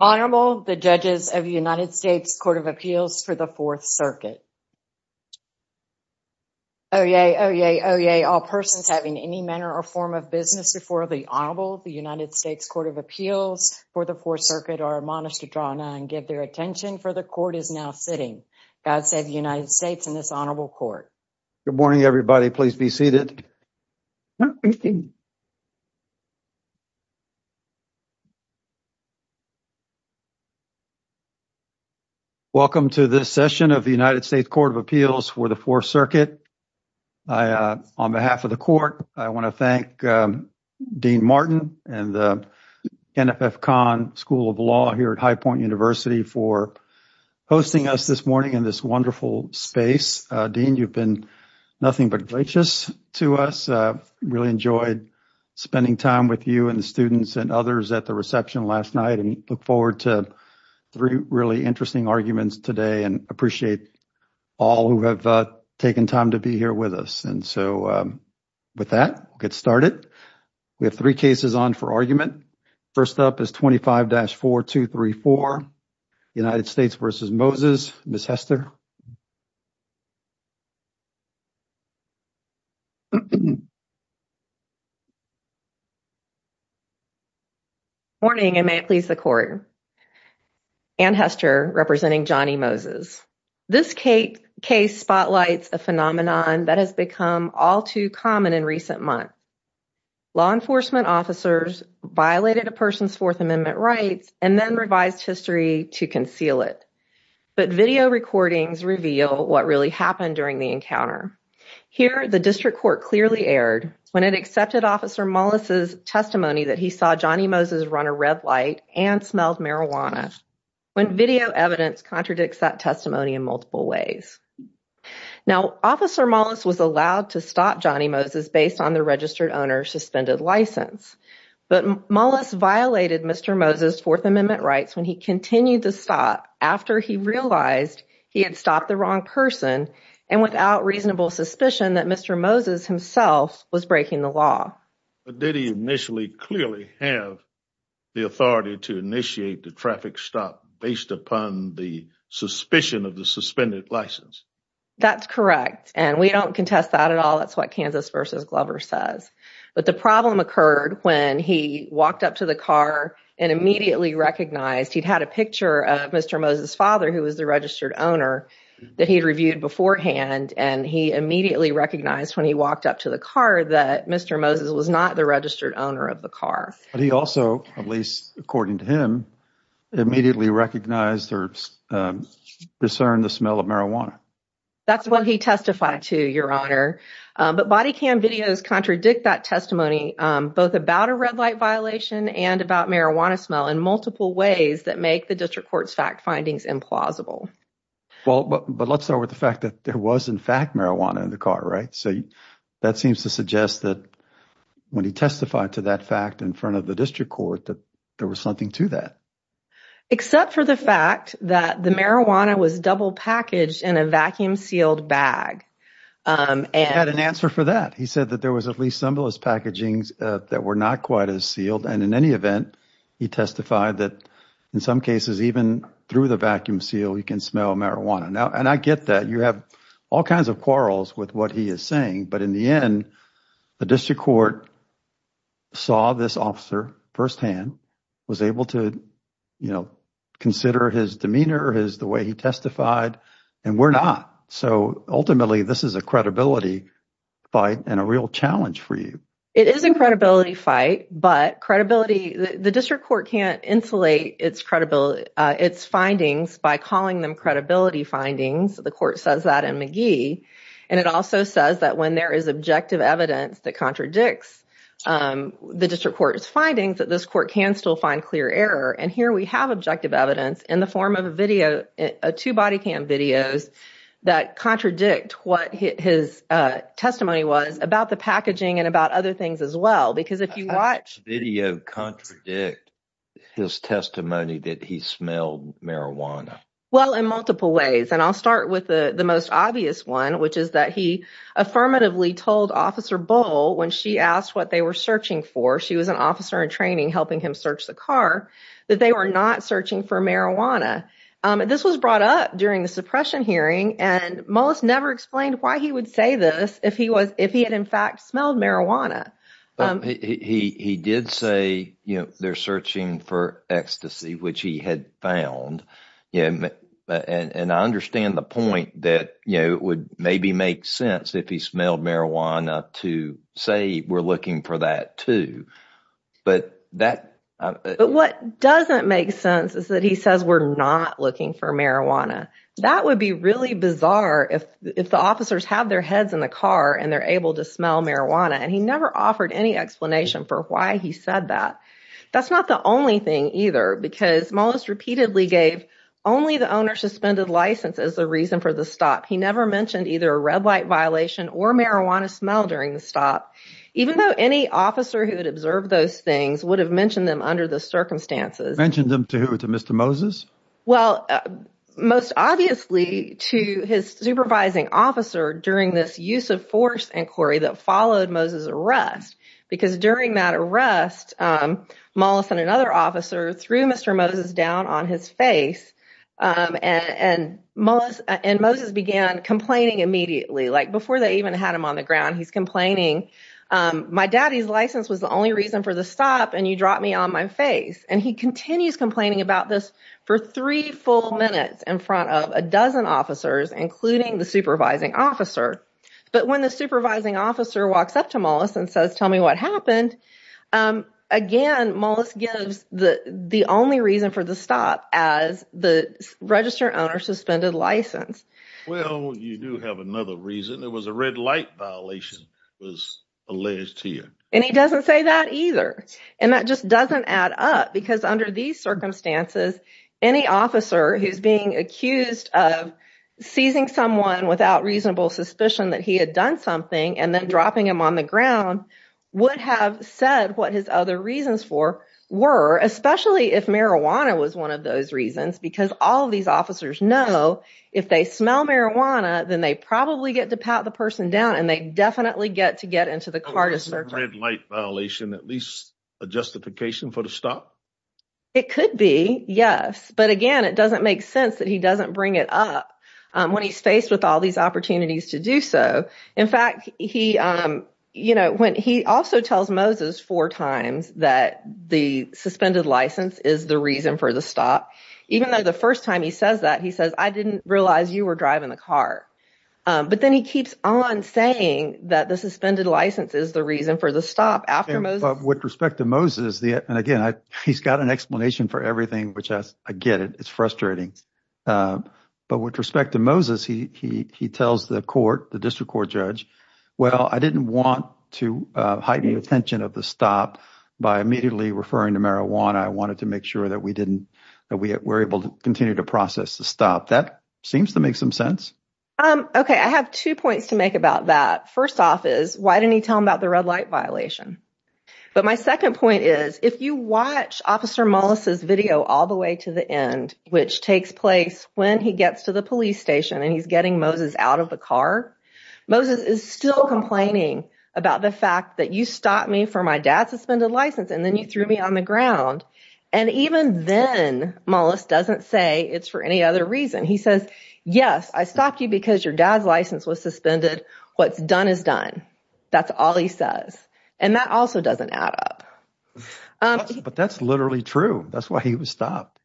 Honorable, the judges of the United States Court of Appeals for the Fourth Circuit. Oyez, oyez, oyez, all persons having any manner or form of business before the Honorable of the United States Court of Appeals for the Fourth Circuit are admonished to draw none and give their attention for the court is now sitting. God save the United States and this Honorable Court. Good morning, everybody. Please be seated. Welcome to this session of the United States Court of Appeals for the Fourth Circuit. On behalf of the court, I want to thank Dean Martin and the NFF Khan School of Law here at High Point University for hosting us this morning in this wonderful space. Dean, you've been nothing but gracious to us. Really enjoyed spending time with you and the students and others at the reception last night and look forward to three really interesting arguments today and appreciate all who have taken time to be here with us. And so, with that, we'll get started. We have three cases on for argument. First up is 25-4234, United States v. Moses. Ms. Hester. Morning, and may it please the court. Anne Moses. This case spotlights a phenomenon that has become all too common in recent months. Law enforcement officers violated a person's Fourth Amendment rights and then revised history to conceal it. But video recordings reveal what really happened during the encounter. Here, the district court clearly erred when it accepted Officer Mollis' testimony that he saw Johnny Moses run a red light and smelled marijuana, when video evidence contradicts that testimony in multiple ways. Now, Officer Mollis was allowed to stop Johnny Moses based on the registered owner's suspended license. But Mollis violated Mr. Moses' Fourth Amendment rights when he continued to stop after he realized he had stopped the wrong person and without reasonable suspicion that Mr. Moses himself was breaking the law. But did he initially clearly have the authority to initiate the traffic stop based upon the suspicion of the suspended license? That's correct, and we don't contest that at all. That's what Kansas v. Glover says. But the problem occurred when he walked up to the car and immediately recognized he'd had a picture of Mr. Moses' father, who was the registered owner, that he'd reviewed beforehand. And he immediately recognized when he walked up to the car that Mr. Moses was not the registered owner of the car. But he also, at least according to him, immediately recognized or discerned the smell of marijuana. That's what he testified to, Your Honor. But body cam videos contradict that testimony, both about a red light violation and about marijuana smell in multiple ways that make the district court's fact findings implausible. But let's start with the fact that there was in fact marijuana in the car, right? So that seems to suggest that when he testified to that fact in front of the district court, that there was something to that. Except for the fact that the marijuana was double packaged in a vacuum-sealed bag. He had an answer for that. He said that there was at least some of those packagings that were not quite as sealed. And in any event, he testified that in some cases, even through the vacuum seal, you can smell marijuana. And I get that. You have all kinds of quarrels with what he is saying. But in the end, the district court saw this officer firsthand, was able to consider his demeanor, the way he testified. And we're not. So ultimately, this is a credibility fight and a real challenge for you. It is a credibility fight, but the district court can't insulate its findings by calling them credibility findings. The court says that in McGee. And it also says that when there is objective evidence that contradicts the district court's findings, that this court can still find clear error. And here we have objective evidence in the form of a video, two body cam videos, that contradict what his testimony was about the packaging and about other things as well. Because if you watch video contradict his testimony, that he smelled marijuana. Well, in multiple ways. And I'll start with the most obvious one, which is that he affirmatively told Officer Bull when she asked what they were searching for. She was an officer in training helping him search the car, that they were not searching for marijuana. This was brought up during the suppression hearing. And most never explained why he would say this if he was if he had, in fact, smelled marijuana. He did say they're searching for ecstasy, which he had found. And I understand the point that it would maybe make sense if he smelled marijuana to say we're looking for that, too. But that but what doesn't make sense is that he says we're not looking for marijuana. That would be really bizarre if if the officers have their heads in the car and they're able to smell marijuana. And he never offered any explanation for why he said that. That's not the only thing either, because most repeatedly gave only the owner suspended license as the reason for the stop. He never mentioned either a red light violation or marijuana smell during the stop, even though any officer who had observed those things would have mentioned them under the circumstances, mentioned them to Mr. Moses. Well, most obviously to his supervising officer during this use of force inquiry that followed Moses arrest, because during that arrest, Mollison, another officer threw Mr. Moses down on his face. And most and Moses began complaining immediately, like before they even had him on the ground. He's complaining. My daddy's license was the only reason for the stop. And you dropped me on my face. And he continues complaining about this for three full minutes in front of a dozen officers, including the supervising officer. But when the supervising officer walks up to Mollison and says, tell me what happened again, Mollis gives the the only reason for the stop as the register owner suspended license. Well, you do have another reason. It was a red light violation was alleged to you. And he doesn't say that either. And that just doesn't add up. Because under these circumstances, any officer who's being accused of seizing someone without reasonable suspicion that he had done something and then dropping him on the ground would have said what his other reasons for were, especially if marijuana was one of those reasons, because all of officers know, if they smell marijuana, then they probably get to pat the person down. And they definitely get to get into the car to start red light violation, at least a justification for the stop. It could be Yes. But again, it doesn't make sense that he doesn't bring it up. When he's faced with all these opportunities to do so. In fact, he, you know, when he also tells Moses four times that the suspended license is the reason for the stop, even though the first time he says that he says, I didn't realize you were driving the car. But then he keeps on saying that the suspended license is the reason for the stop after most with respect to Moses. And again, he's got an explanation for everything, which I get it. It's frustrating. But with respect to Moses, he tells the court, the district court judge, well, I didn't want to invite the attention of the stop by immediately referring to marijuana, I wanted to make sure that we didn't, that we were able to continue to process the stop. That seems to make some sense. Okay, I have two points to make about that. First off is why didn't he tell him about the red light violation? But my second point is, if you watch Officer Mollis's video all the way to the end, which takes place when he gets to the end, he says, you stopped me for my dad suspended license, and then you threw me on the ground. And even then, Mollis doesn't say it's for any other reason. He says, Yes, I stopped you because your dad's license was suspended. What's done is done. That's all he says. And that also doesn't add up. But that's literally true. That's why he was stopped.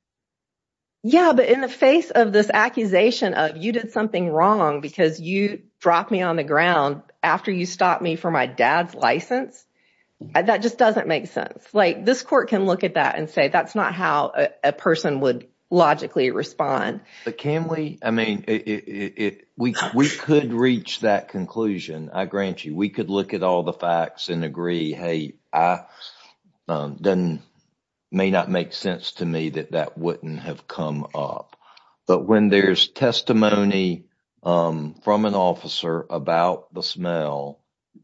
Yeah, but in the face of this accusation of you did something wrong, because you dropped me on the ground after you stopped me for my dad's license. That just doesn't make sense. Like this court can look at that and say, that's not how a person would logically respond. But can we, I mean, if we could reach that conclusion, I grant you, we could look at all the facts and agree, hey, then may not make sense to me that that wouldn't have come up. But when there's testimony from an officer about the smell,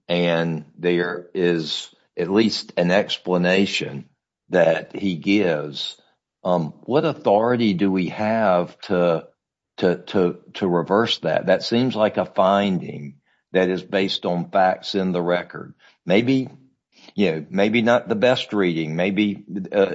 and there is at least an explanation that he gives, what authority do we have to reverse that? That seems like a finding that is based on facts in the record. Maybe, you know, maybe not the best reading, maybe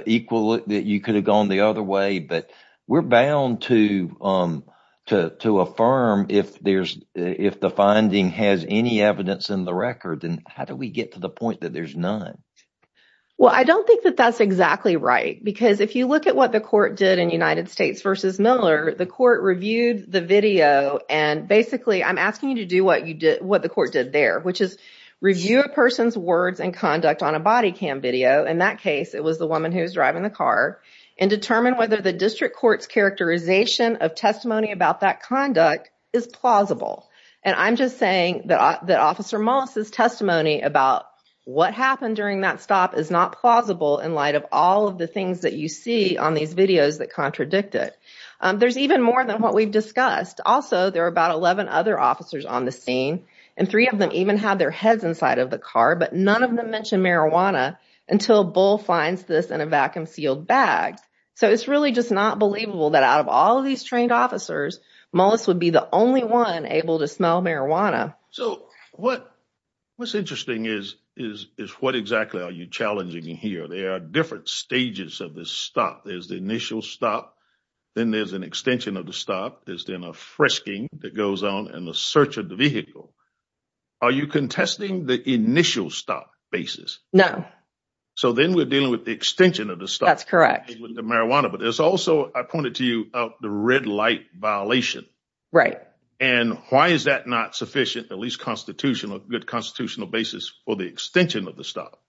equal that you could have gone the other way. But we're bound to affirm if there's if the finding has any evidence in the record, then how do we get to the point that there's none? Well, I don't think that that's exactly right, because if you look at what the court did in United States versus Miller, the court reviewed the video. And basically, I'm asking you to do what you did, what the court did there, which is review a person's words and conduct on a body cam video, in that case, it was the woman who's driving the car, and determine whether the district court's characterization of testimony about that conduct is plausible. And I'm just saying that that Officer Moss's testimony about what happened during that stop is not plausible in light of all of the things that you see on these videos that contradict it. There's even more than what we've discussed. Also, there are about 11 other officers on the scene, and three of them even had their heads inside of the car, but none of them mentioned marijuana until Bull finds this in a vacuum sealed bag. So it's really just not believable that out of all of these trained officers, Mollis would be the only one able to smell marijuana. So what what's interesting is, is what exactly are you challenging here? There are different stages of this stop. There's the initial stop. Then there's an extension of the stop. There's then a frisking that goes on and the search of the vehicle. Are you contesting the initial stop basis? No. So then we're dealing with the extension of the stop. That's correct. With the marijuana. But there's also, I pointed to you, the red light violation. Right. And why is that not sufficient, at least constitutional, good constitutional basis for the extension of the stop?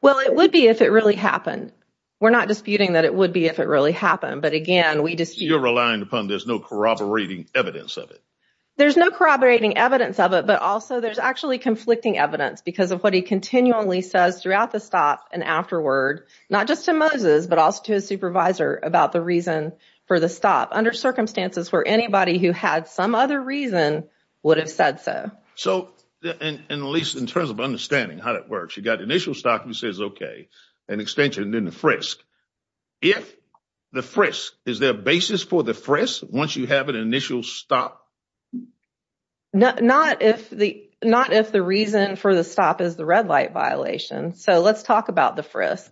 Well, it would be if it really happened. We're not disputing that it would be if it really happened. But again, we just you're relying upon. There's no corroborating evidence of it. There's no corroborating evidence of it. But also there's actually conflicting evidence because of what he continually says throughout the stop and afterward, not just to Moses, but also to his supervisor about the reason for the stop under circumstances where anybody who had some other reason would have said so. So and at least in terms of understanding how that works, you got initial stop and says, OK, an extension in the frisk. If the frisk is their basis for the frisk, once you have an initial stop. Not if the not if the reason for the stop is the red light violation. So let's talk about the frisk,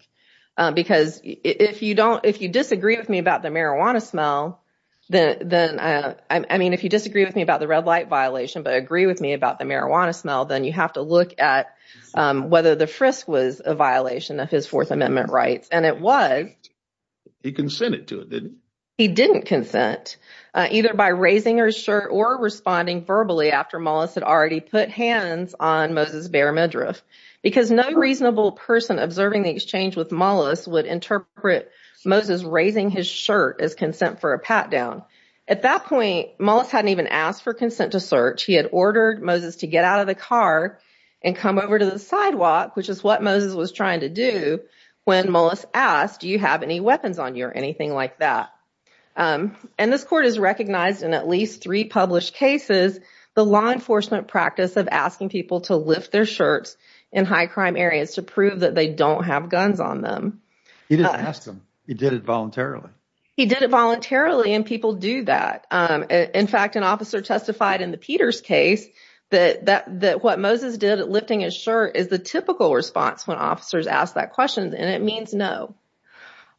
because if you don't if you disagree with me about the marijuana smell, then I mean, if you disagree with me about the red light violation, but agree with me about the marijuana smell, then you have to look at whether the frisk was a violation of his Fourth Amendment rights. And it was he consented to it. He didn't consent either by raising her shirt or responding verbally after Mollis had already put hands on Moses. Because no reasonable person observing the exchange with Mollis would interpret Moses raising his shirt as consent for a pat down. At that point, Mollis hadn't even asked for consent to search. He had ordered Moses to get out of the car and come over to the sidewalk, which is what Moses was trying to do. When Mollis asked, do you have any weapons on you or anything like that? And this court has recognized in at least three published cases the law enforcement practice of asking people to lift their shirts in high crime areas to prove that they don't have guns on them. He didn't ask them. He did it voluntarily. He did it voluntarily. And people do that. In fact, an officer testified in the Peters case that that that what Moses did at lifting his shirt is the typical response when officers ask that question. And it means no.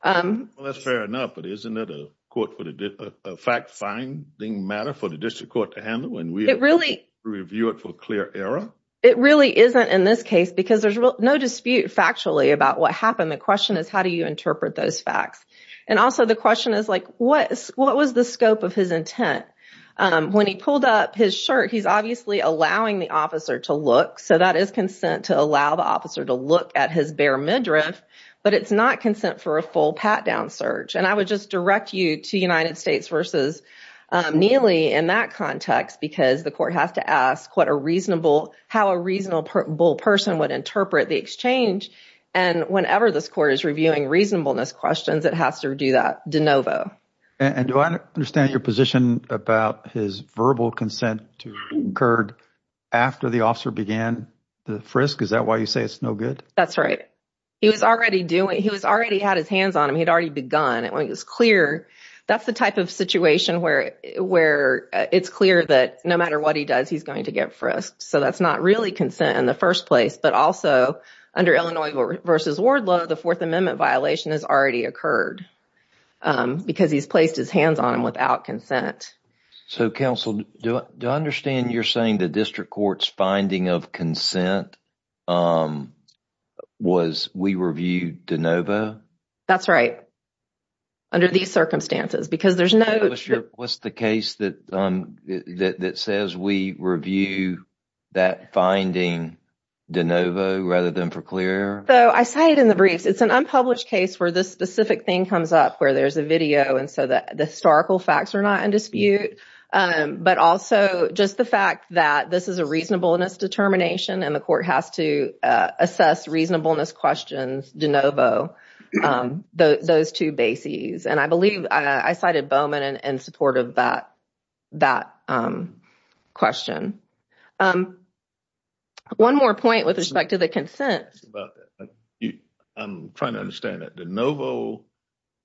Well, that's fair enough. But isn't it a court for the fact finding matter for the district court to handle when we really review it for clear error? It really isn't in this case because there's no dispute factually about what happened. The question is, how do you interpret those facts? And also the question is, like, what what was the scope of his intent when he pulled up his shirt? He's obviously allowing the officer to look. So that is consent to allow the officer to look at his bare midriff. But it's not consent for a full pat down search. And I would just direct you to United States versus Neely in that context, because the court has to ask what a reasonable how a reasonable person would interpret the exchange. And whenever this court is reviewing reasonableness questions, it has to do that de novo. And do I understand your position about his verbal consent to incurred after the officer began the frisk? Is that why you say it's no good? That's right. He was already doing he was already had his hands on him. He'd already begun. It was clear that's the type of situation where where it's clear that no matter what he does, he's going to get frisked. So that's not really consent in the first place. But also under Illinois versus Wardlow, the Fourth Amendment violation has already occurred because he's placed his hands on him without consent. So, counsel, do I understand you're saying the district court's finding of consent was we reviewed de novo? That's right. Under these circumstances, because there's no what's the case that that says we review that finding de novo rather than for clear. So I cited in the briefs, it's an unpublished case where this specific thing comes up, where there's a video. And so the historical facts are not in dispute, but also just the fact that this is a reasonableness determination and the court has to assess reasonableness questions de novo, those two bases. And I believe I cited Bowman in support of that that question. One more point with respect to the consent. I'm trying to understand that de novo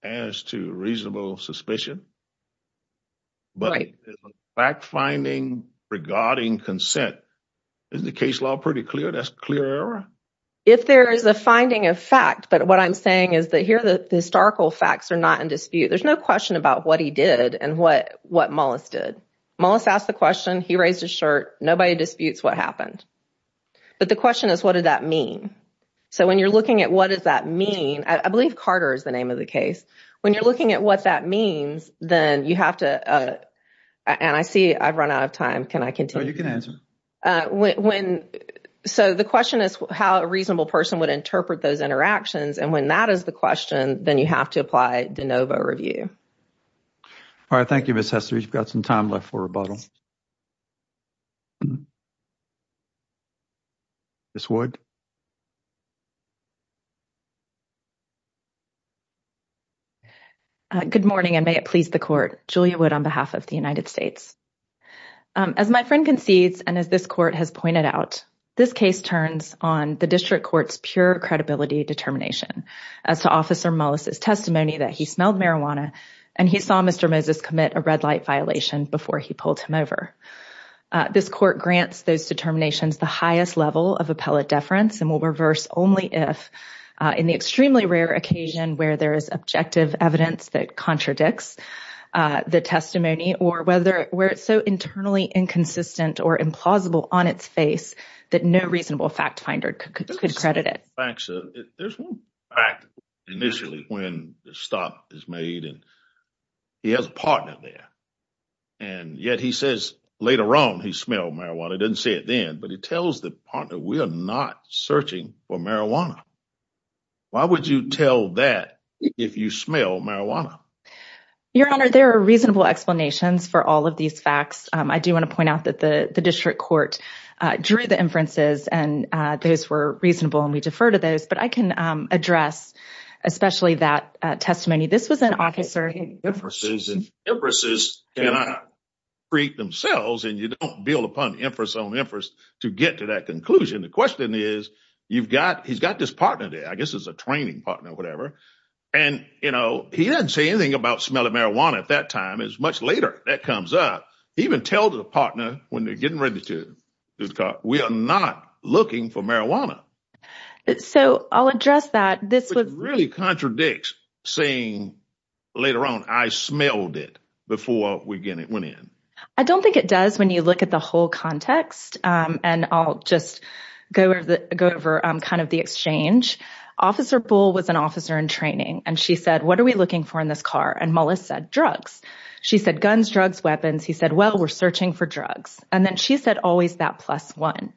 as to reasonable suspicion. But fact finding regarding consent is the case law pretty clear, that's clear. If there is a finding of fact, but what I'm saying is that here, the historical facts are not in dispute. There's no question about what he did and what what Mollis did. Mollis asked the question. He raised his shirt. Nobody disputes what happened. But the question is, what did that mean? So when you're looking at what does that mean? I believe Carter is the name of the case. When you're looking at what that means, then you have to and I see I've run out of time. Can I continue? You can answer when. So the question is how a reasonable person would interpret those interactions. And when that is the question, then you have to apply de novo review. Thank you, Miss Hester. You've got some time left for rebuttal. This would. Good morning and may it please the court. Julia Wood on behalf of the United States. As my friend concedes and as this court has pointed out, this case turns on the district court's pure credibility determination as to Officer Mollis' testimony that he smelled marijuana and he saw Mr. Moses commit a red light violation before he pulled him over. This court grants those determinations the highest level of appellate deference and will reverse only if in the extremely rare occasion where there is objective evidence that contradicts the testimony or whether where it's so internally inconsistent or implausible on its face that no reasonable fact finder could credit it. Thanks. There's one fact initially when the stop is made and he has a partner there and yet he says later on he smelled marijuana. He didn't say it then, but he tells the partner we are not searching for marijuana. Why would you tell that if you smell marijuana? Your Honor, there are reasonable explanations for all of these facts. I do want to point out that the district court drew the inferences and those were reasonable and we defer to those, but I can address especially that testimony. This was an officer. Empresses cannot treat themselves and you don't build upon empress on empress to get to that conclusion. The question is you've got he's got this partner there. I guess it's a training partner and you know he doesn't say anything about smelling marijuana at that time. It's much later that comes up. Even tell the partner when they're getting ready to do the car. We are not looking for marijuana. So I'll address that. This would really contradict saying later on I smelled it before we get it went in. I don't think it does when you look at the whole context and I'll just go over the go over kind of the exchange. Officer Bull was an officer in training and she said what are we looking for in this car? And Mollis said drugs. She said guns, drugs, weapons. He said well we're searching for drugs and then she said always that plus one.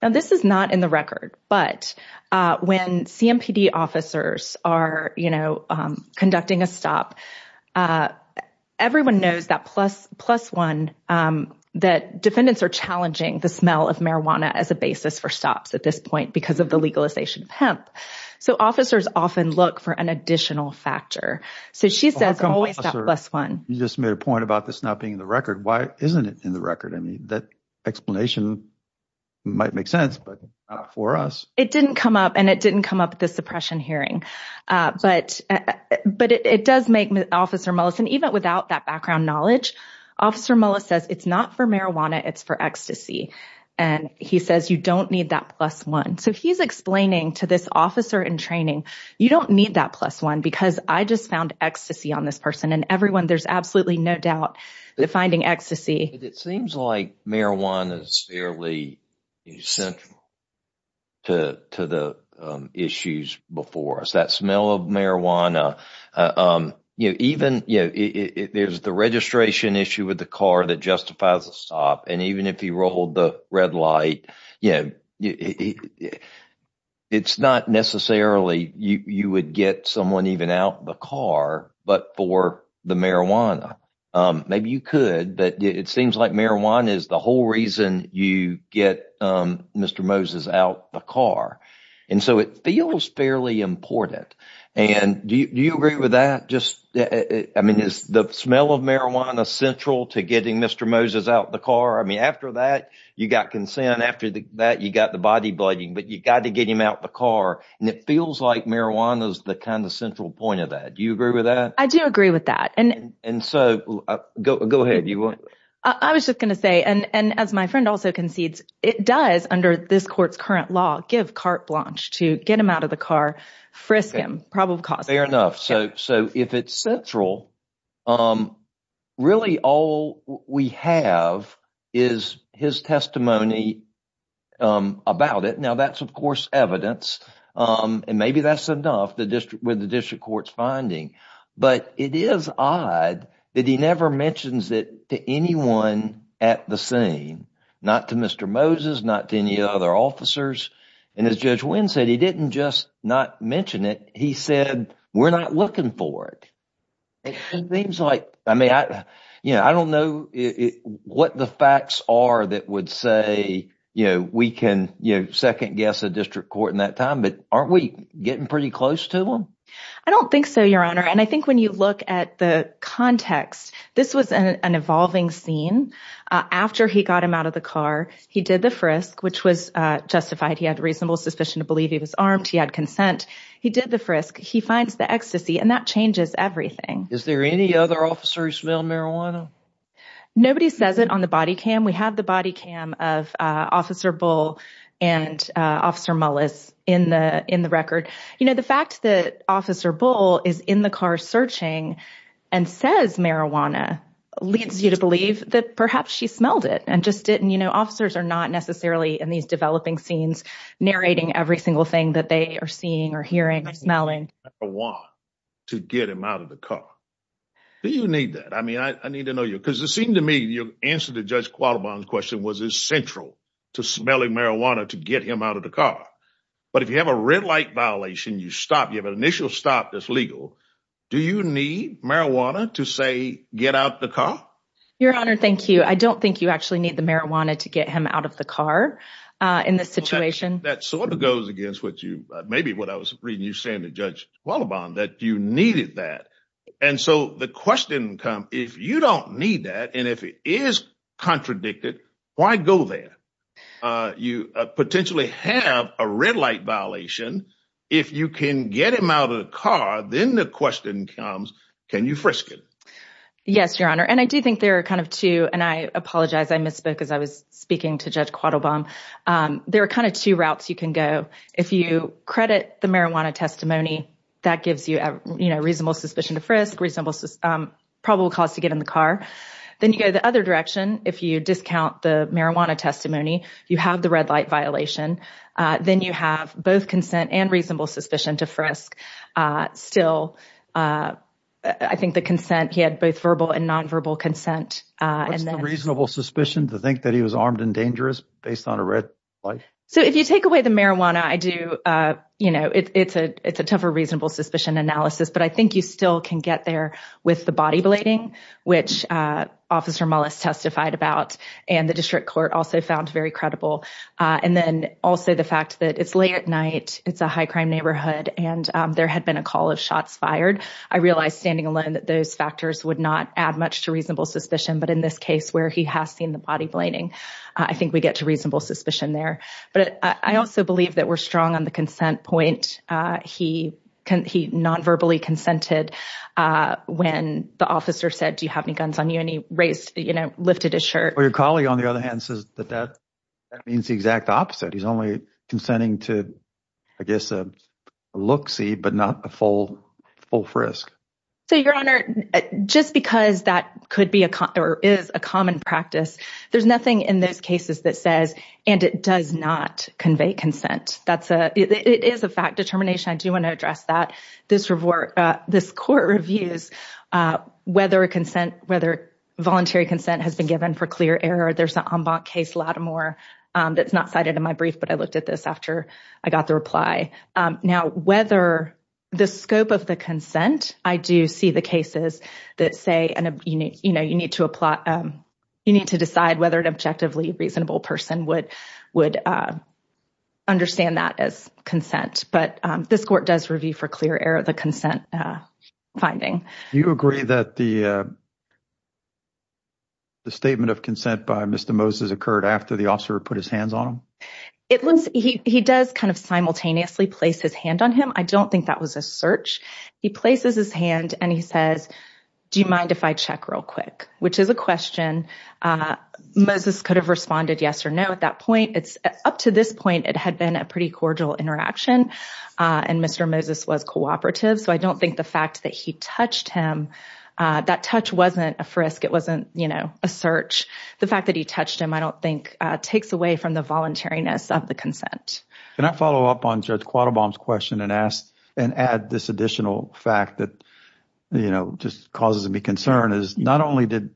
Now this is not in the record, but when CMPD officers are you know conducting a stop, everyone knows that plus one that defendants are challenging the smell of marijuana as a basis for stops at this point because of the legalization of hemp. So officers often look for an additional factor. So she says always that plus one. You just made a point about this not being in the record. Why isn't it in the record? I mean that explanation might make sense, but not for us. It didn't come up and it didn't come up at the suppression hearing, but it does make Officer Mollis and even without that background knowledge, Officer Mollis says it's not for marijuana, it's for ecstasy. And he says you don't need that plus one. So he's explaining to this officer in training you don't need that plus one because I just found ecstasy on this person and everyone there's absolutely no doubt that finding ecstasy. It seems like marijuana is fairly central to the issues before us. That smell of marijuana, there's the registration issue with the car that justifies a stop and even if you rolled the red light, it's not necessarily you would get someone even out the car, but for the marijuana. Maybe you could, but it seems like marijuana is the whole reason you get Mr. Moses out the car. And so it feels fairly important. And do you agree with that? I mean, is the smell of marijuana central to getting Mr. Moses out the car? I mean, after that, you got consent. After that, you got the body blooding, but you got to get him out the car. And it feels like marijuana is the kind of central point of that. Do you agree with that? I do agree with that. And so go ahead. I was just going to say, and as my friend also concedes, it does under this court's current law, give carte blanche to get him out of the car, frisk him, probable cause. Fair enough. So if it's central, really all we have is his testimony about it. Now that's, of course, evidence and maybe that's enough with the district court's finding. But it is odd that he never mentions it to anyone at the scene, not to Mr. Moses, not to any other officers. And as Judge Wynn said, he didn't just not mention it. He said, we're not looking for it. It seems like, I mean, I don't know what the facts are that would say, you know, we can second guess a district court in that time, but aren't we getting pretty close to them? I don't think so, Your Honor. And I think when you look at the context, this was an evolving scene. After he got him out of the car, he did the frisk, which was justified. He had reasonable suspicion to believe he was armed. He had consent. He did the frisk. He finds the ecstasy and that changes everything. Is there any other officer who smelled marijuana? Nobody says it on the body cam. We have the body cam of Officer Bull and Officer Mullis in the record. You know, the fact that Officer Bull is in the car searching and says marijuana leads you to believe that perhaps she smelled it and just didn't. You know, officers are not necessarily in these developing scenes narrating every single thing that they are seeing or hearing or smelling. To get him out of the car. Do you need that? I mean, I need to know you because it seemed to me your answer to Judge Qualabong's question was essential to smelling marijuana, to get him out of the car. But if you have a red light violation, you stop, you have an initial stop that's legal. Do you need marijuana to say, get out the car? Your Honor, thank you. I don't think you actually need the marijuana to get him out of the car in this situation. That sort of goes against what you, maybe what I was reading you saying to Judge Qualabong, that you needed that. And so the question comes, if you don't need that, and if it is contradicted, why go there? You potentially have a red light violation. If you can get him out of the car, then the question comes, can you frisk it? Yes, Your Honor. And I do think there are kind of two, and I apologize, I misspoke as I was speaking to Judge Qualabong. There are kind of two routes you can go. If you credit the marijuana testimony, that gives you a reasonable suspicion to frisk, reasonable probable cause to get in the car. Then you go the other direction. If you discount the marijuana testimony, you have the red light violation. Then you have both consent and reasonable suspicion to frisk. Still, I think the consent, he had both verbal and nonverbal consent. What's the reasonable suspicion to think that he was armed and dangerous based on a red light? So if you take away the marijuana, I do, you know, it's a tougher reasonable suspicion analysis. But I think you still can get there with the body blading, which Officer Mullis testified about, and the district court also found very credible. And then also the fact that it's late at night, it's a high crime neighborhood, and there had been a call of shots fired. I realized standing alone that those factors would not add much to reasonable suspicion. But in this case where he has seen the body blading, I think we get to reasonable suspicion there. But I also believe that we're strong on the consent point. He nonverbally consented when the officer said, do you have any guns on you? And he raised, you know, lifted his shirt. Well, your colleague, on the other hand, says that that means the exact opposite. He's only consenting to, I guess, a look-see, but not a full frisk. So, Your Honor, just because that could be or is a common practice, there's nothing in those cases that says, and it does not convey consent. That's a, it is a fact determination. I do want to address that. This court reviews whether a consent, whether voluntary consent has been given for clear error. There's an en banc case, Lattimore, that's not cited in my brief, but I looked at this after I got the reply. Now, whether the scope of the consent, I do see the cases that say, you know, you need to decide whether an objectively reasonable person would understand that as consent. But this court does review for clear error the consent finding. You agree that the statement of consent by Mr. Moses occurred after the officer put his hands on him? He does kind of simultaneously place his hand on him. I don't think that was a search. He places his hand and he says, do you mind if I check real quick, which is a question. Moses could have responded yes or no at that point. Up to this point, it had been a pretty cordial interaction, and Mr. Moses was cooperative. So, I don't think the fact that he touched him, that touch wasn't a frisk. It wasn't, you know, a search. The fact that he touched him, I don't think, takes away from the voluntariness of the consent. Can I follow up on Judge Quattlebaum's question and add this additional fact that, you know, just causes me concern, is not only did,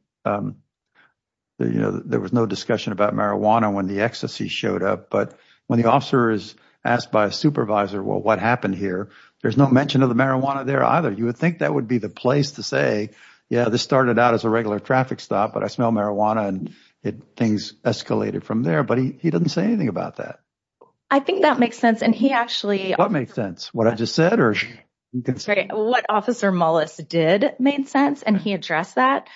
you know, there was no discussion about marijuana when the ecstasy showed up, but when the officer is asked by a supervisor, well, what happened here, there's no mention of the marijuana there either. You would think that would be the place to say, yeah, this started out as a regular traffic stop, but I smell marijuana and things escalated from there, but he doesn't say anything about that. I think that makes sense, and he actually... What makes sense? What I just said or... What Officer Mullis did made sense, and he addressed that.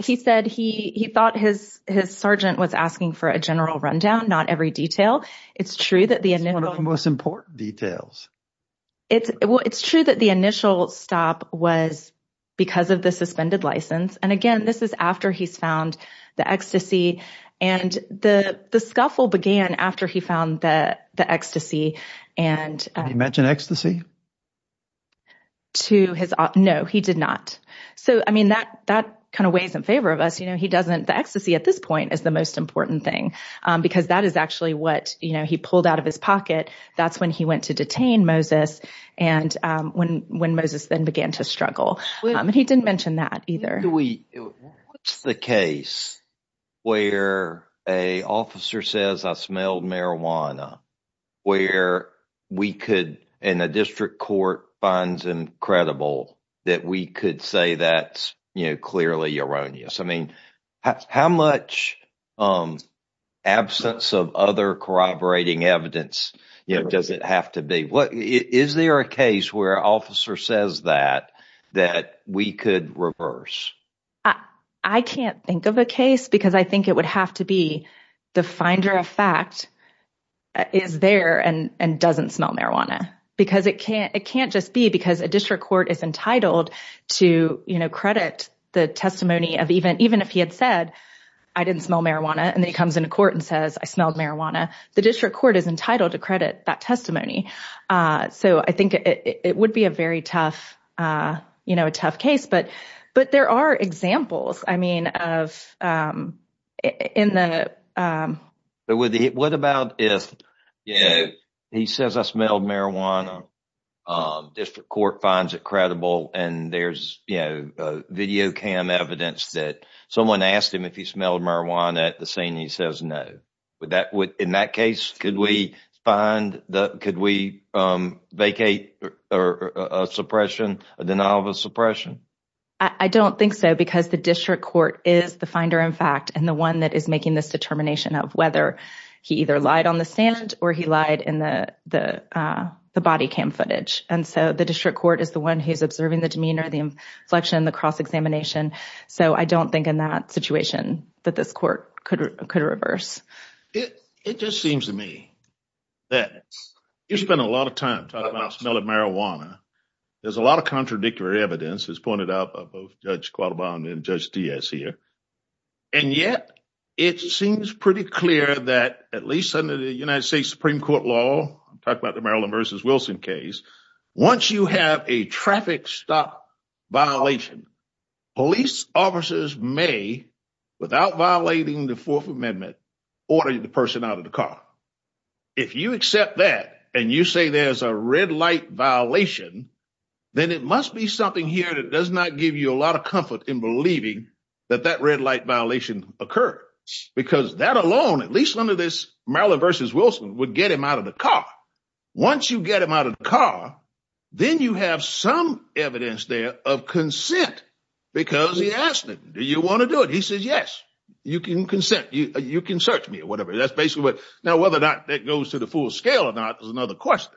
He said he thought his sergeant was asking for a general rundown, not every detail. It's true that the initial... One of the most important details. It's true that the initial stop was because of the suspended license, and again, this is after he's found the ecstasy, and the scuffle began after he found the ecstasy and... Did he mention ecstasy? To his... No, he did not. So, I mean, that kind of weighs in favor of us. You know, he doesn't... The ecstasy at this point is the most important thing because that is actually what, you know, he pulled out of his pocket. That's when he went to detain Moses and when Moses then began to struggle, and he didn't mention that either. What's the case where an officer says, I smelled marijuana, where we could, and the district court finds him credible, that we could say that's, you know, clearly erroneous? I mean, how much absence of other corroborating evidence does it have to be? Is there a case where an officer says that, that we could reverse? I can't think of a case because I think it would have to be the finder of fact is there and doesn't smell marijuana because it can't just be because a district court is entitled to, you know, credit the testimony of even if he had said, I didn't smell marijuana, and then he comes into court and says, I smelled marijuana. The district court is entitled to credit that testimony. So, I think it would be a very tough, you know, a tough case, but there are examples, I mean, of in the. What about if, you know, he says I smelled marijuana, district court finds it credible, and there's, you know, video cam evidence that someone asked him if he smelled marijuana at the scene and he says no. In that case, could we find, could we vacate a suppression, a denial of suppression? I don't think so because the district court is the finder of fact and the one that is making this determination of whether he either lied on the stand or he lied in the body cam footage. And so, the district court is the one who's observing the demeanor, the inflection, the cross-examination. So, I don't think in that situation that this court could reverse. It just seems to me that you spend a lot of time talking about smelling marijuana. There's a lot of contradictory evidence as pointed out by both Judge Quattlebaum and Judge Diaz here. And yet, it seems pretty clear that at least under the United States Supreme Court law, talk about the Maryland versus Wilson case, once you have a traffic stop violation, police officers may, without violating the Fourth Amendment, order the person out of the car. If you accept that and you say there's a red light violation, then it must be something here that does not give you a lot of comfort in believing that that red light violation occurred. Because that alone, at least under this Maryland versus Wilson, would get him out of the car. Once you get him out of the car, then you have some evidence there of consent. Because he asked me, do you want to do it? He said, yes, you can consent. You can search me or whatever. That's basically what. Now, whether or not that goes to the full scale or not is another question.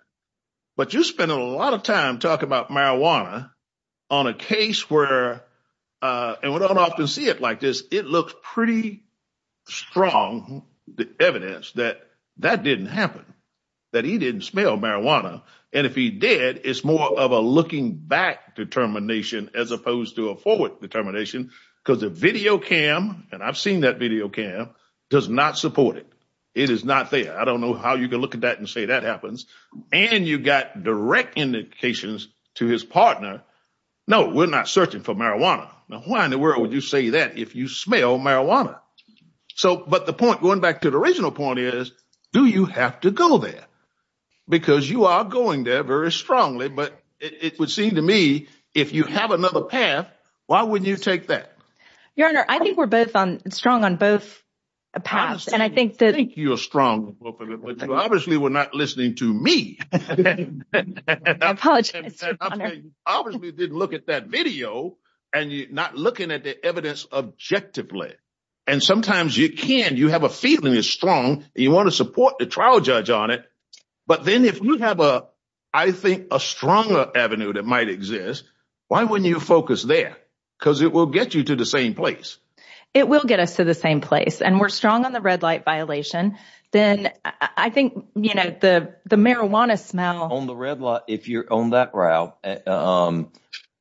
But you spend a lot of time talking about marijuana on a case where, and we don't often see it like this, it looks pretty strong, the evidence that that didn't happen. That he didn't smell marijuana. And if he did, it's more of a looking back determination as opposed to a forward determination. Because the video cam, and I've seen that video cam, does not support it. It is not there. I don't know how you can look at that and say that happens. And you got direct indications to his partner. No, we're not searching for marijuana. Now, why in the world would you say that if you smell marijuana? So, but the point, going back to the original point is, do you have to go there? Because you are going there very strongly. But it would seem to me, if you have another path, why wouldn't you take that? Your Honor, I think we're both on strong on both paths. And I think that. I think you're strong, but you obviously were not listening to me. I apologize. You obviously didn't look at that video and you're not looking at the evidence objectively. And sometimes you can, you have a feeling is strong and you want to support the trial judge on it. But then if you have a, I think a stronger avenue that might exist, why wouldn't you focus there? Because it will get you to the same place. It will get us to the same place. And we're strong on the red light violation. Then I think, you know, the marijuana smell. On the red light, if you're on that route,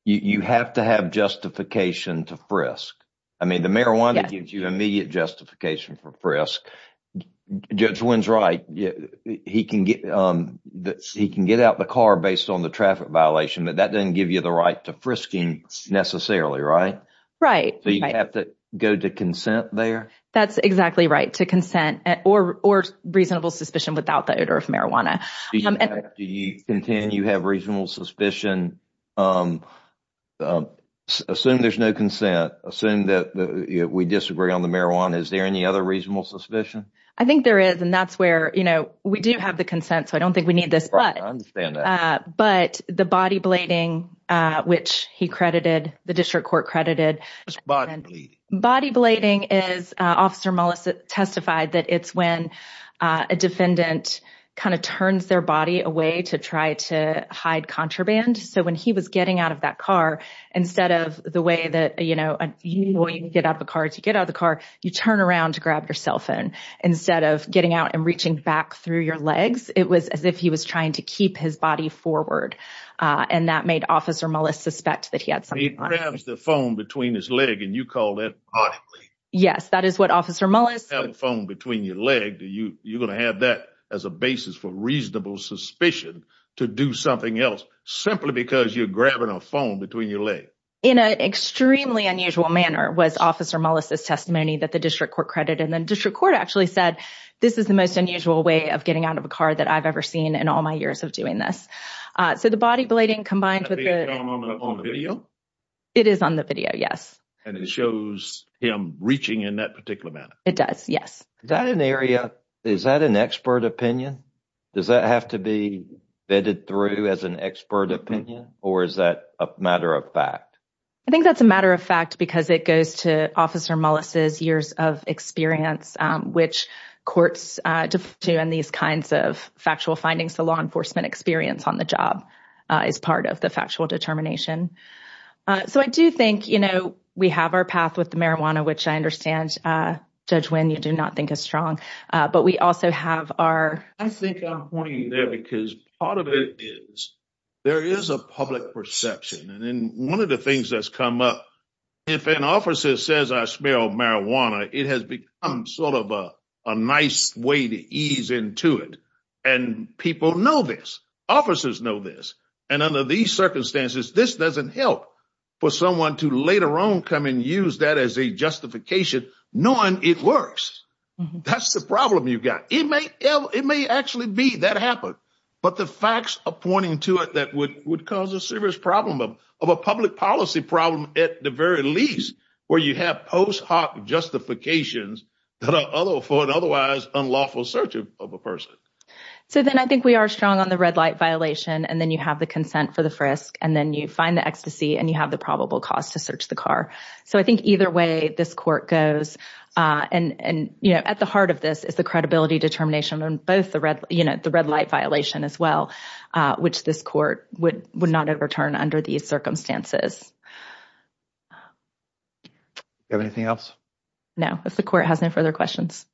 you have to have justification to frisk. I mean, the marijuana gives you immediate justification for frisk. Judge Wynn's right. He can get, he can get out the car based on the traffic violation, but that doesn't give you the right to frisking necessarily, right? So you have to go to consent there? That's exactly right. To consent or reasonable suspicion without the odor of marijuana. Do you contend you have reasonable suspicion? Assume there's no consent. Assume that we disagree on the marijuana. Is there any other reasonable suspicion? I think there is. And that's where, you know, we do have the consent. So I don't think we need this. But I understand that. But the body blading, which he credited, the district court credited. What's body blading? Body blading is, Officer Mullis testified that it's when a defendant kind of turns their body away to try to hide contraband. So when he was getting out of that car, instead of the way that, you know, you can get out of the car to get out of the car, you turn around to grab your cell phone. Instead of getting out and reaching back through your legs, it was as if he was trying to keep his body forward. And that made Officer Mullis suspect that he had something on him. He grabs the phone between his leg and you call that body blading. Yes, that is what Officer Mullis. You have a phone between your leg. You're going to have that as a basis for reasonable suspicion to do something else simply because you're grabbing a phone between your legs. In an extremely unusual manner was Officer Mullis' testimony that the district court credited. And the district court actually said this is the most unusual way of getting out of a car that I've ever seen in all my years of doing this. So the body blading combined with the video. It is on the video, yes. And it shows him reaching in that particular manner. It does, yes. Is that an area, is that an expert opinion? Does that have to be vetted through as an expert opinion? Or is that a matter of fact? I think that's a matter of fact because it goes to Officer Mullis' years of experience, which courts do in these kinds of factual findings. The law enforcement experience on the job is part of the factual determination. So I do think, you know, we have our path with the marijuana, which I understand, Judge Wynn, you do not think is strong. But we also have our... I think I'm pointing there because part of it is there is a public perception. And one of the things that's come up, if an officer says, I smell marijuana, it has become sort of a nice way to ease into it. And people know this, officers know this. And under these circumstances, this doesn't help for someone to later on come and use that as a justification, knowing it works. That's the problem you've got. It may actually be that happened. But the facts are pointing to it would cause a serious problem of a public policy problem at the very least, where you have post hoc justifications for an otherwise unlawful search of a person. So then I think we are strong on the red light violation. And then you have the consent for the frisk. And then you find the ecstasy and you have the probable cause to search the car. So I think either way, this court goes. And at the heart of this is the credibility determination on both the red light violation as well, which this court would not overturn under these circumstances. Do you have anything else? No. If the court has no further questions.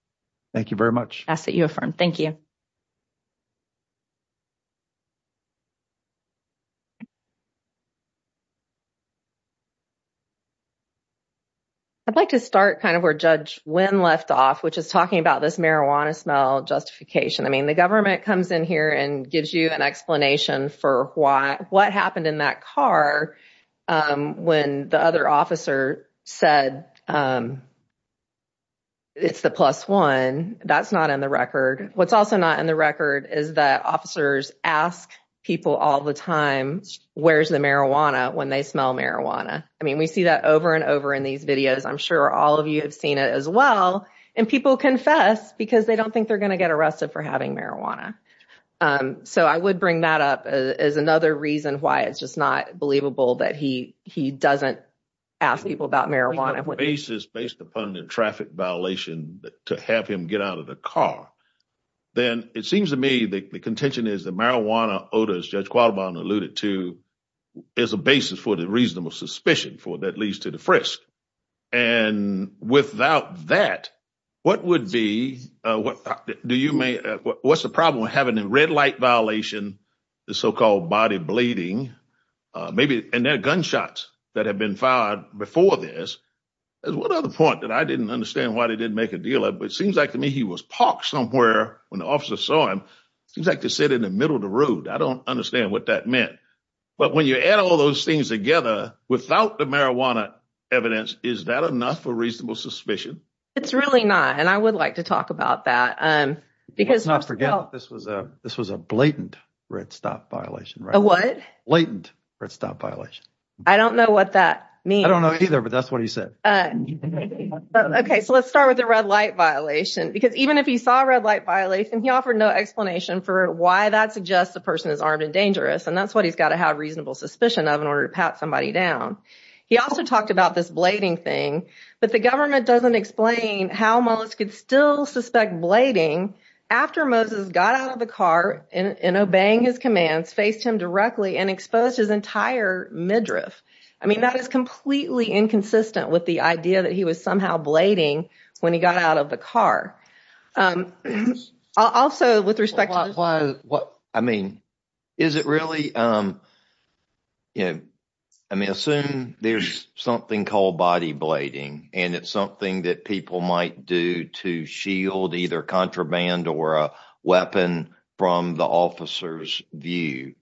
Thank you very much. I ask that you affirm. Thank you. I'd like to start kind of where Judge Wynn left off, which is talking about this marijuana justification. I mean, the government comes in here and gives you an explanation for what happened in that car when the other officer said it's the plus one. That's not in the record. What's also not in the record is that officers ask people all the time, where's the marijuana when they smell marijuana? I mean, we see that over and over in these videos. I'm sure all of you have seen it as well. And people confess because they don't think they're going to get arrested for having marijuana. So I would bring that up as another reason why it's just not believable that he doesn't ask people about marijuana. Based upon the traffic violation to have him get out of the car, then it seems to me that the contention is that marijuana odors, Judge Qualibon alluded to, is a basis for the reasonable suspicion for that leads to the frisk. And without that, what's the problem with having a red light violation, the so-called body bleeding, and their gunshots that have been fired before this? There's one other point that I didn't understand why they didn't make a deal, but it seems like to me he was parked somewhere when the officer saw him. It seems like they sit in the middle of the road. I don't understand what that meant. But when you add all those things together without the marijuana evidence, is that enough for reasonable suspicion? It's really not. And I would like to talk about that. Let's not forget this was a blatant red stop violation. A what? Blatant red stop violation. I don't know what that means. I don't know either, but that's what he said. Okay, so let's start with the red light violation. Because even if he saw a red light violation, he offered no explanation for why that suggests the person is armed and dangerous. And that's what he's got to have reasonable suspicion of in order to pat somebody down. He also talked about this blading thing, but the government doesn't explain how Mullis could still suspect blading after Moses got out of the car and obeying his commands, faced him directly, and exposed his entire midriff. I mean, that is completely inconsistent with the idea that he was somehow blading when he got out of the car. Also, with respect to what I mean, is it really, you know, I mean, assume there's something called body blading, and it's something that people might do to shield either contraband or a weapon from the officer's view.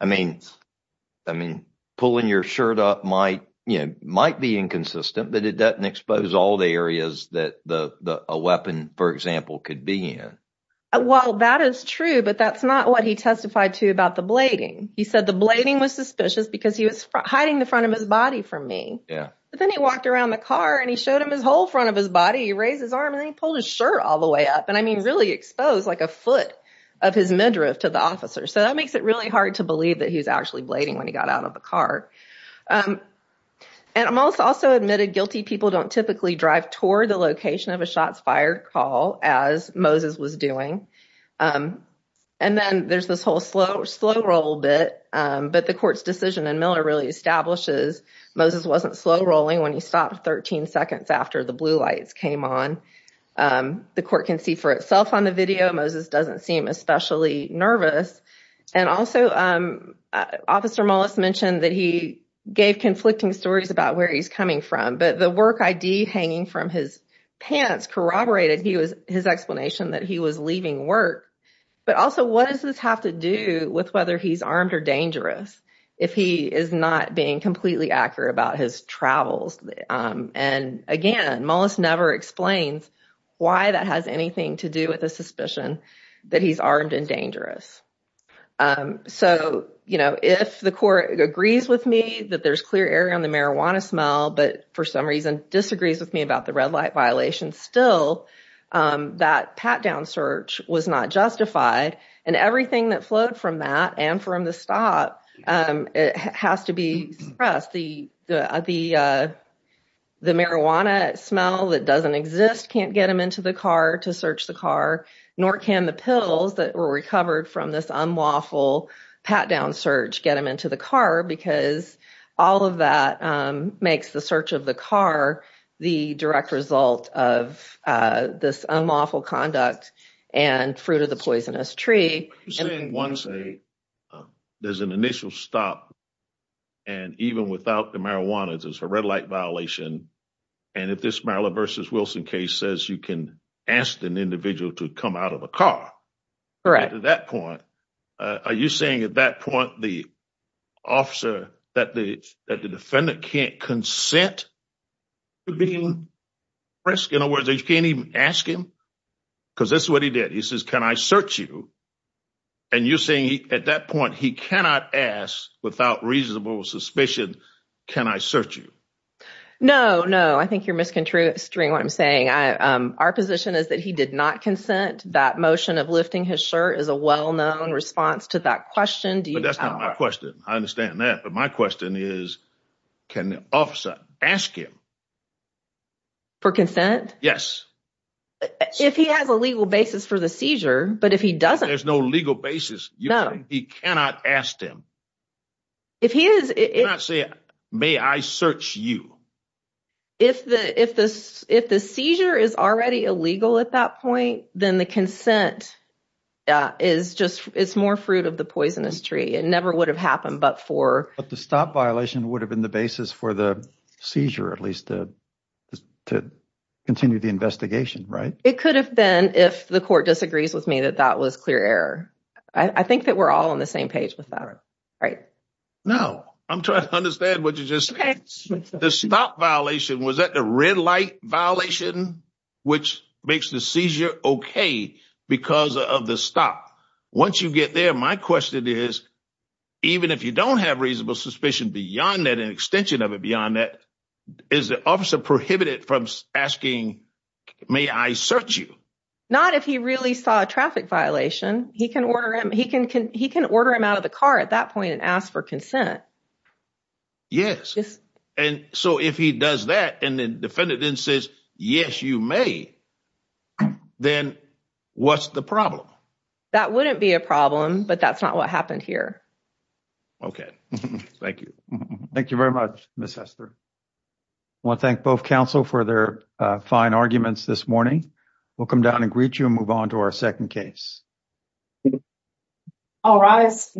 I mean, I mean, pulling your shirt up might, you know, might be inconsistent, but it doesn't expose all the areas that a weapon, for example, could be in. Well, that is true, but that's not what he testified to about the blading. He said the blading was suspicious because he was hiding the front of his body from me. But then he walked around the car, and he showed him his whole front of his body. He raised his arm, and then he pulled his shirt all the way up. And I mean, really exposed like a foot of his midriff to the officer. So that makes it really hard to believe that he was actually blading when he got out of the car. And Mullis also admitted guilty people don't typically drive toward the location of a shots fired call as Moses was doing. And then there's this whole slow roll bit, but the court's decision in Miller really establishes Moses wasn't slow rolling when he stopped 13 seconds after the blue lights came on. The court can see for itself on the video. Moses doesn't seem especially nervous. And also, Officer Mullis mentioned that he gave from his pants corroborated he was his explanation that he was leaving work. But also, what does this have to do with whether he's armed or dangerous if he is not being completely accurate about his travels? And again, Mullis never explains why that has anything to do with the suspicion that he's armed and dangerous. So, you know, if the court agrees with me that there's clear error on the marijuana smell, but for some reason disagrees with me about the red light violation, still, that pat down search was not justified. And everything that flowed from that and from the stop, it has to be pressed. The marijuana smell that doesn't exist can't get him into the car to search the car, nor can the pills that were recovered from this unlawful pat down search get him into the car, because all of that makes the search of the car the direct result of this unlawful conduct and fruit of the poisonous tree. There's an initial stop, and even without the marijuana, there's a red light violation. And if this Maryland versus Wilson case says you can ask an individual to come out of a car at that point, are you saying at that point, the officer that the defendant can't consent to being pressed? In other words, you can't even ask him, because that's what he did. He says, can I search you? And you're saying at that point, he cannot ask without reasonable suspicion, can I search you? No, no, I think you're misconstruing what I'm saying. Our position is that he did not consent. That motion of lifting his shirt is a well-known response to that question. But that's not my question. I understand that. But my question is, can the officer ask him for consent? Yes. If he has a legal basis for the seizure, but if he doesn't, there's no legal basis. He cannot ask them. If he is, he cannot say, may I search you? If the seizure is already illegal at that point, then the consent is just, it's more fruit of the poisonous tree. It never would have happened, but for... But the stop violation would have been the basis for the seizure, at least to continue the investigation, right? It could have been, if the court disagrees with me, that that was clear error. I think that we're all on the same page with that. Right. No, I'm trying to understand what you're just saying. The stop violation, was that the red light violation, which makes the seizure okay because of the stop? Once you get there, my question is, even if you don't have reasonable suspicion beyond that, an extension of it beyond that, is the officer prohibited from asking, may I search you? Not if he really saw traffic violation, he can order him out of the car at that point and ask for consent. Yes. And so if he does that, and the defendant then says, yes, you may, then what's the problem? That wouldn't be a problem, but that's not what happened here. Okay. Thank you. Thank you very much, Ms. Hester. I want to thank both counsel for their fine arguments this morning. We'll come down and greet you and move on to our second case. All rise.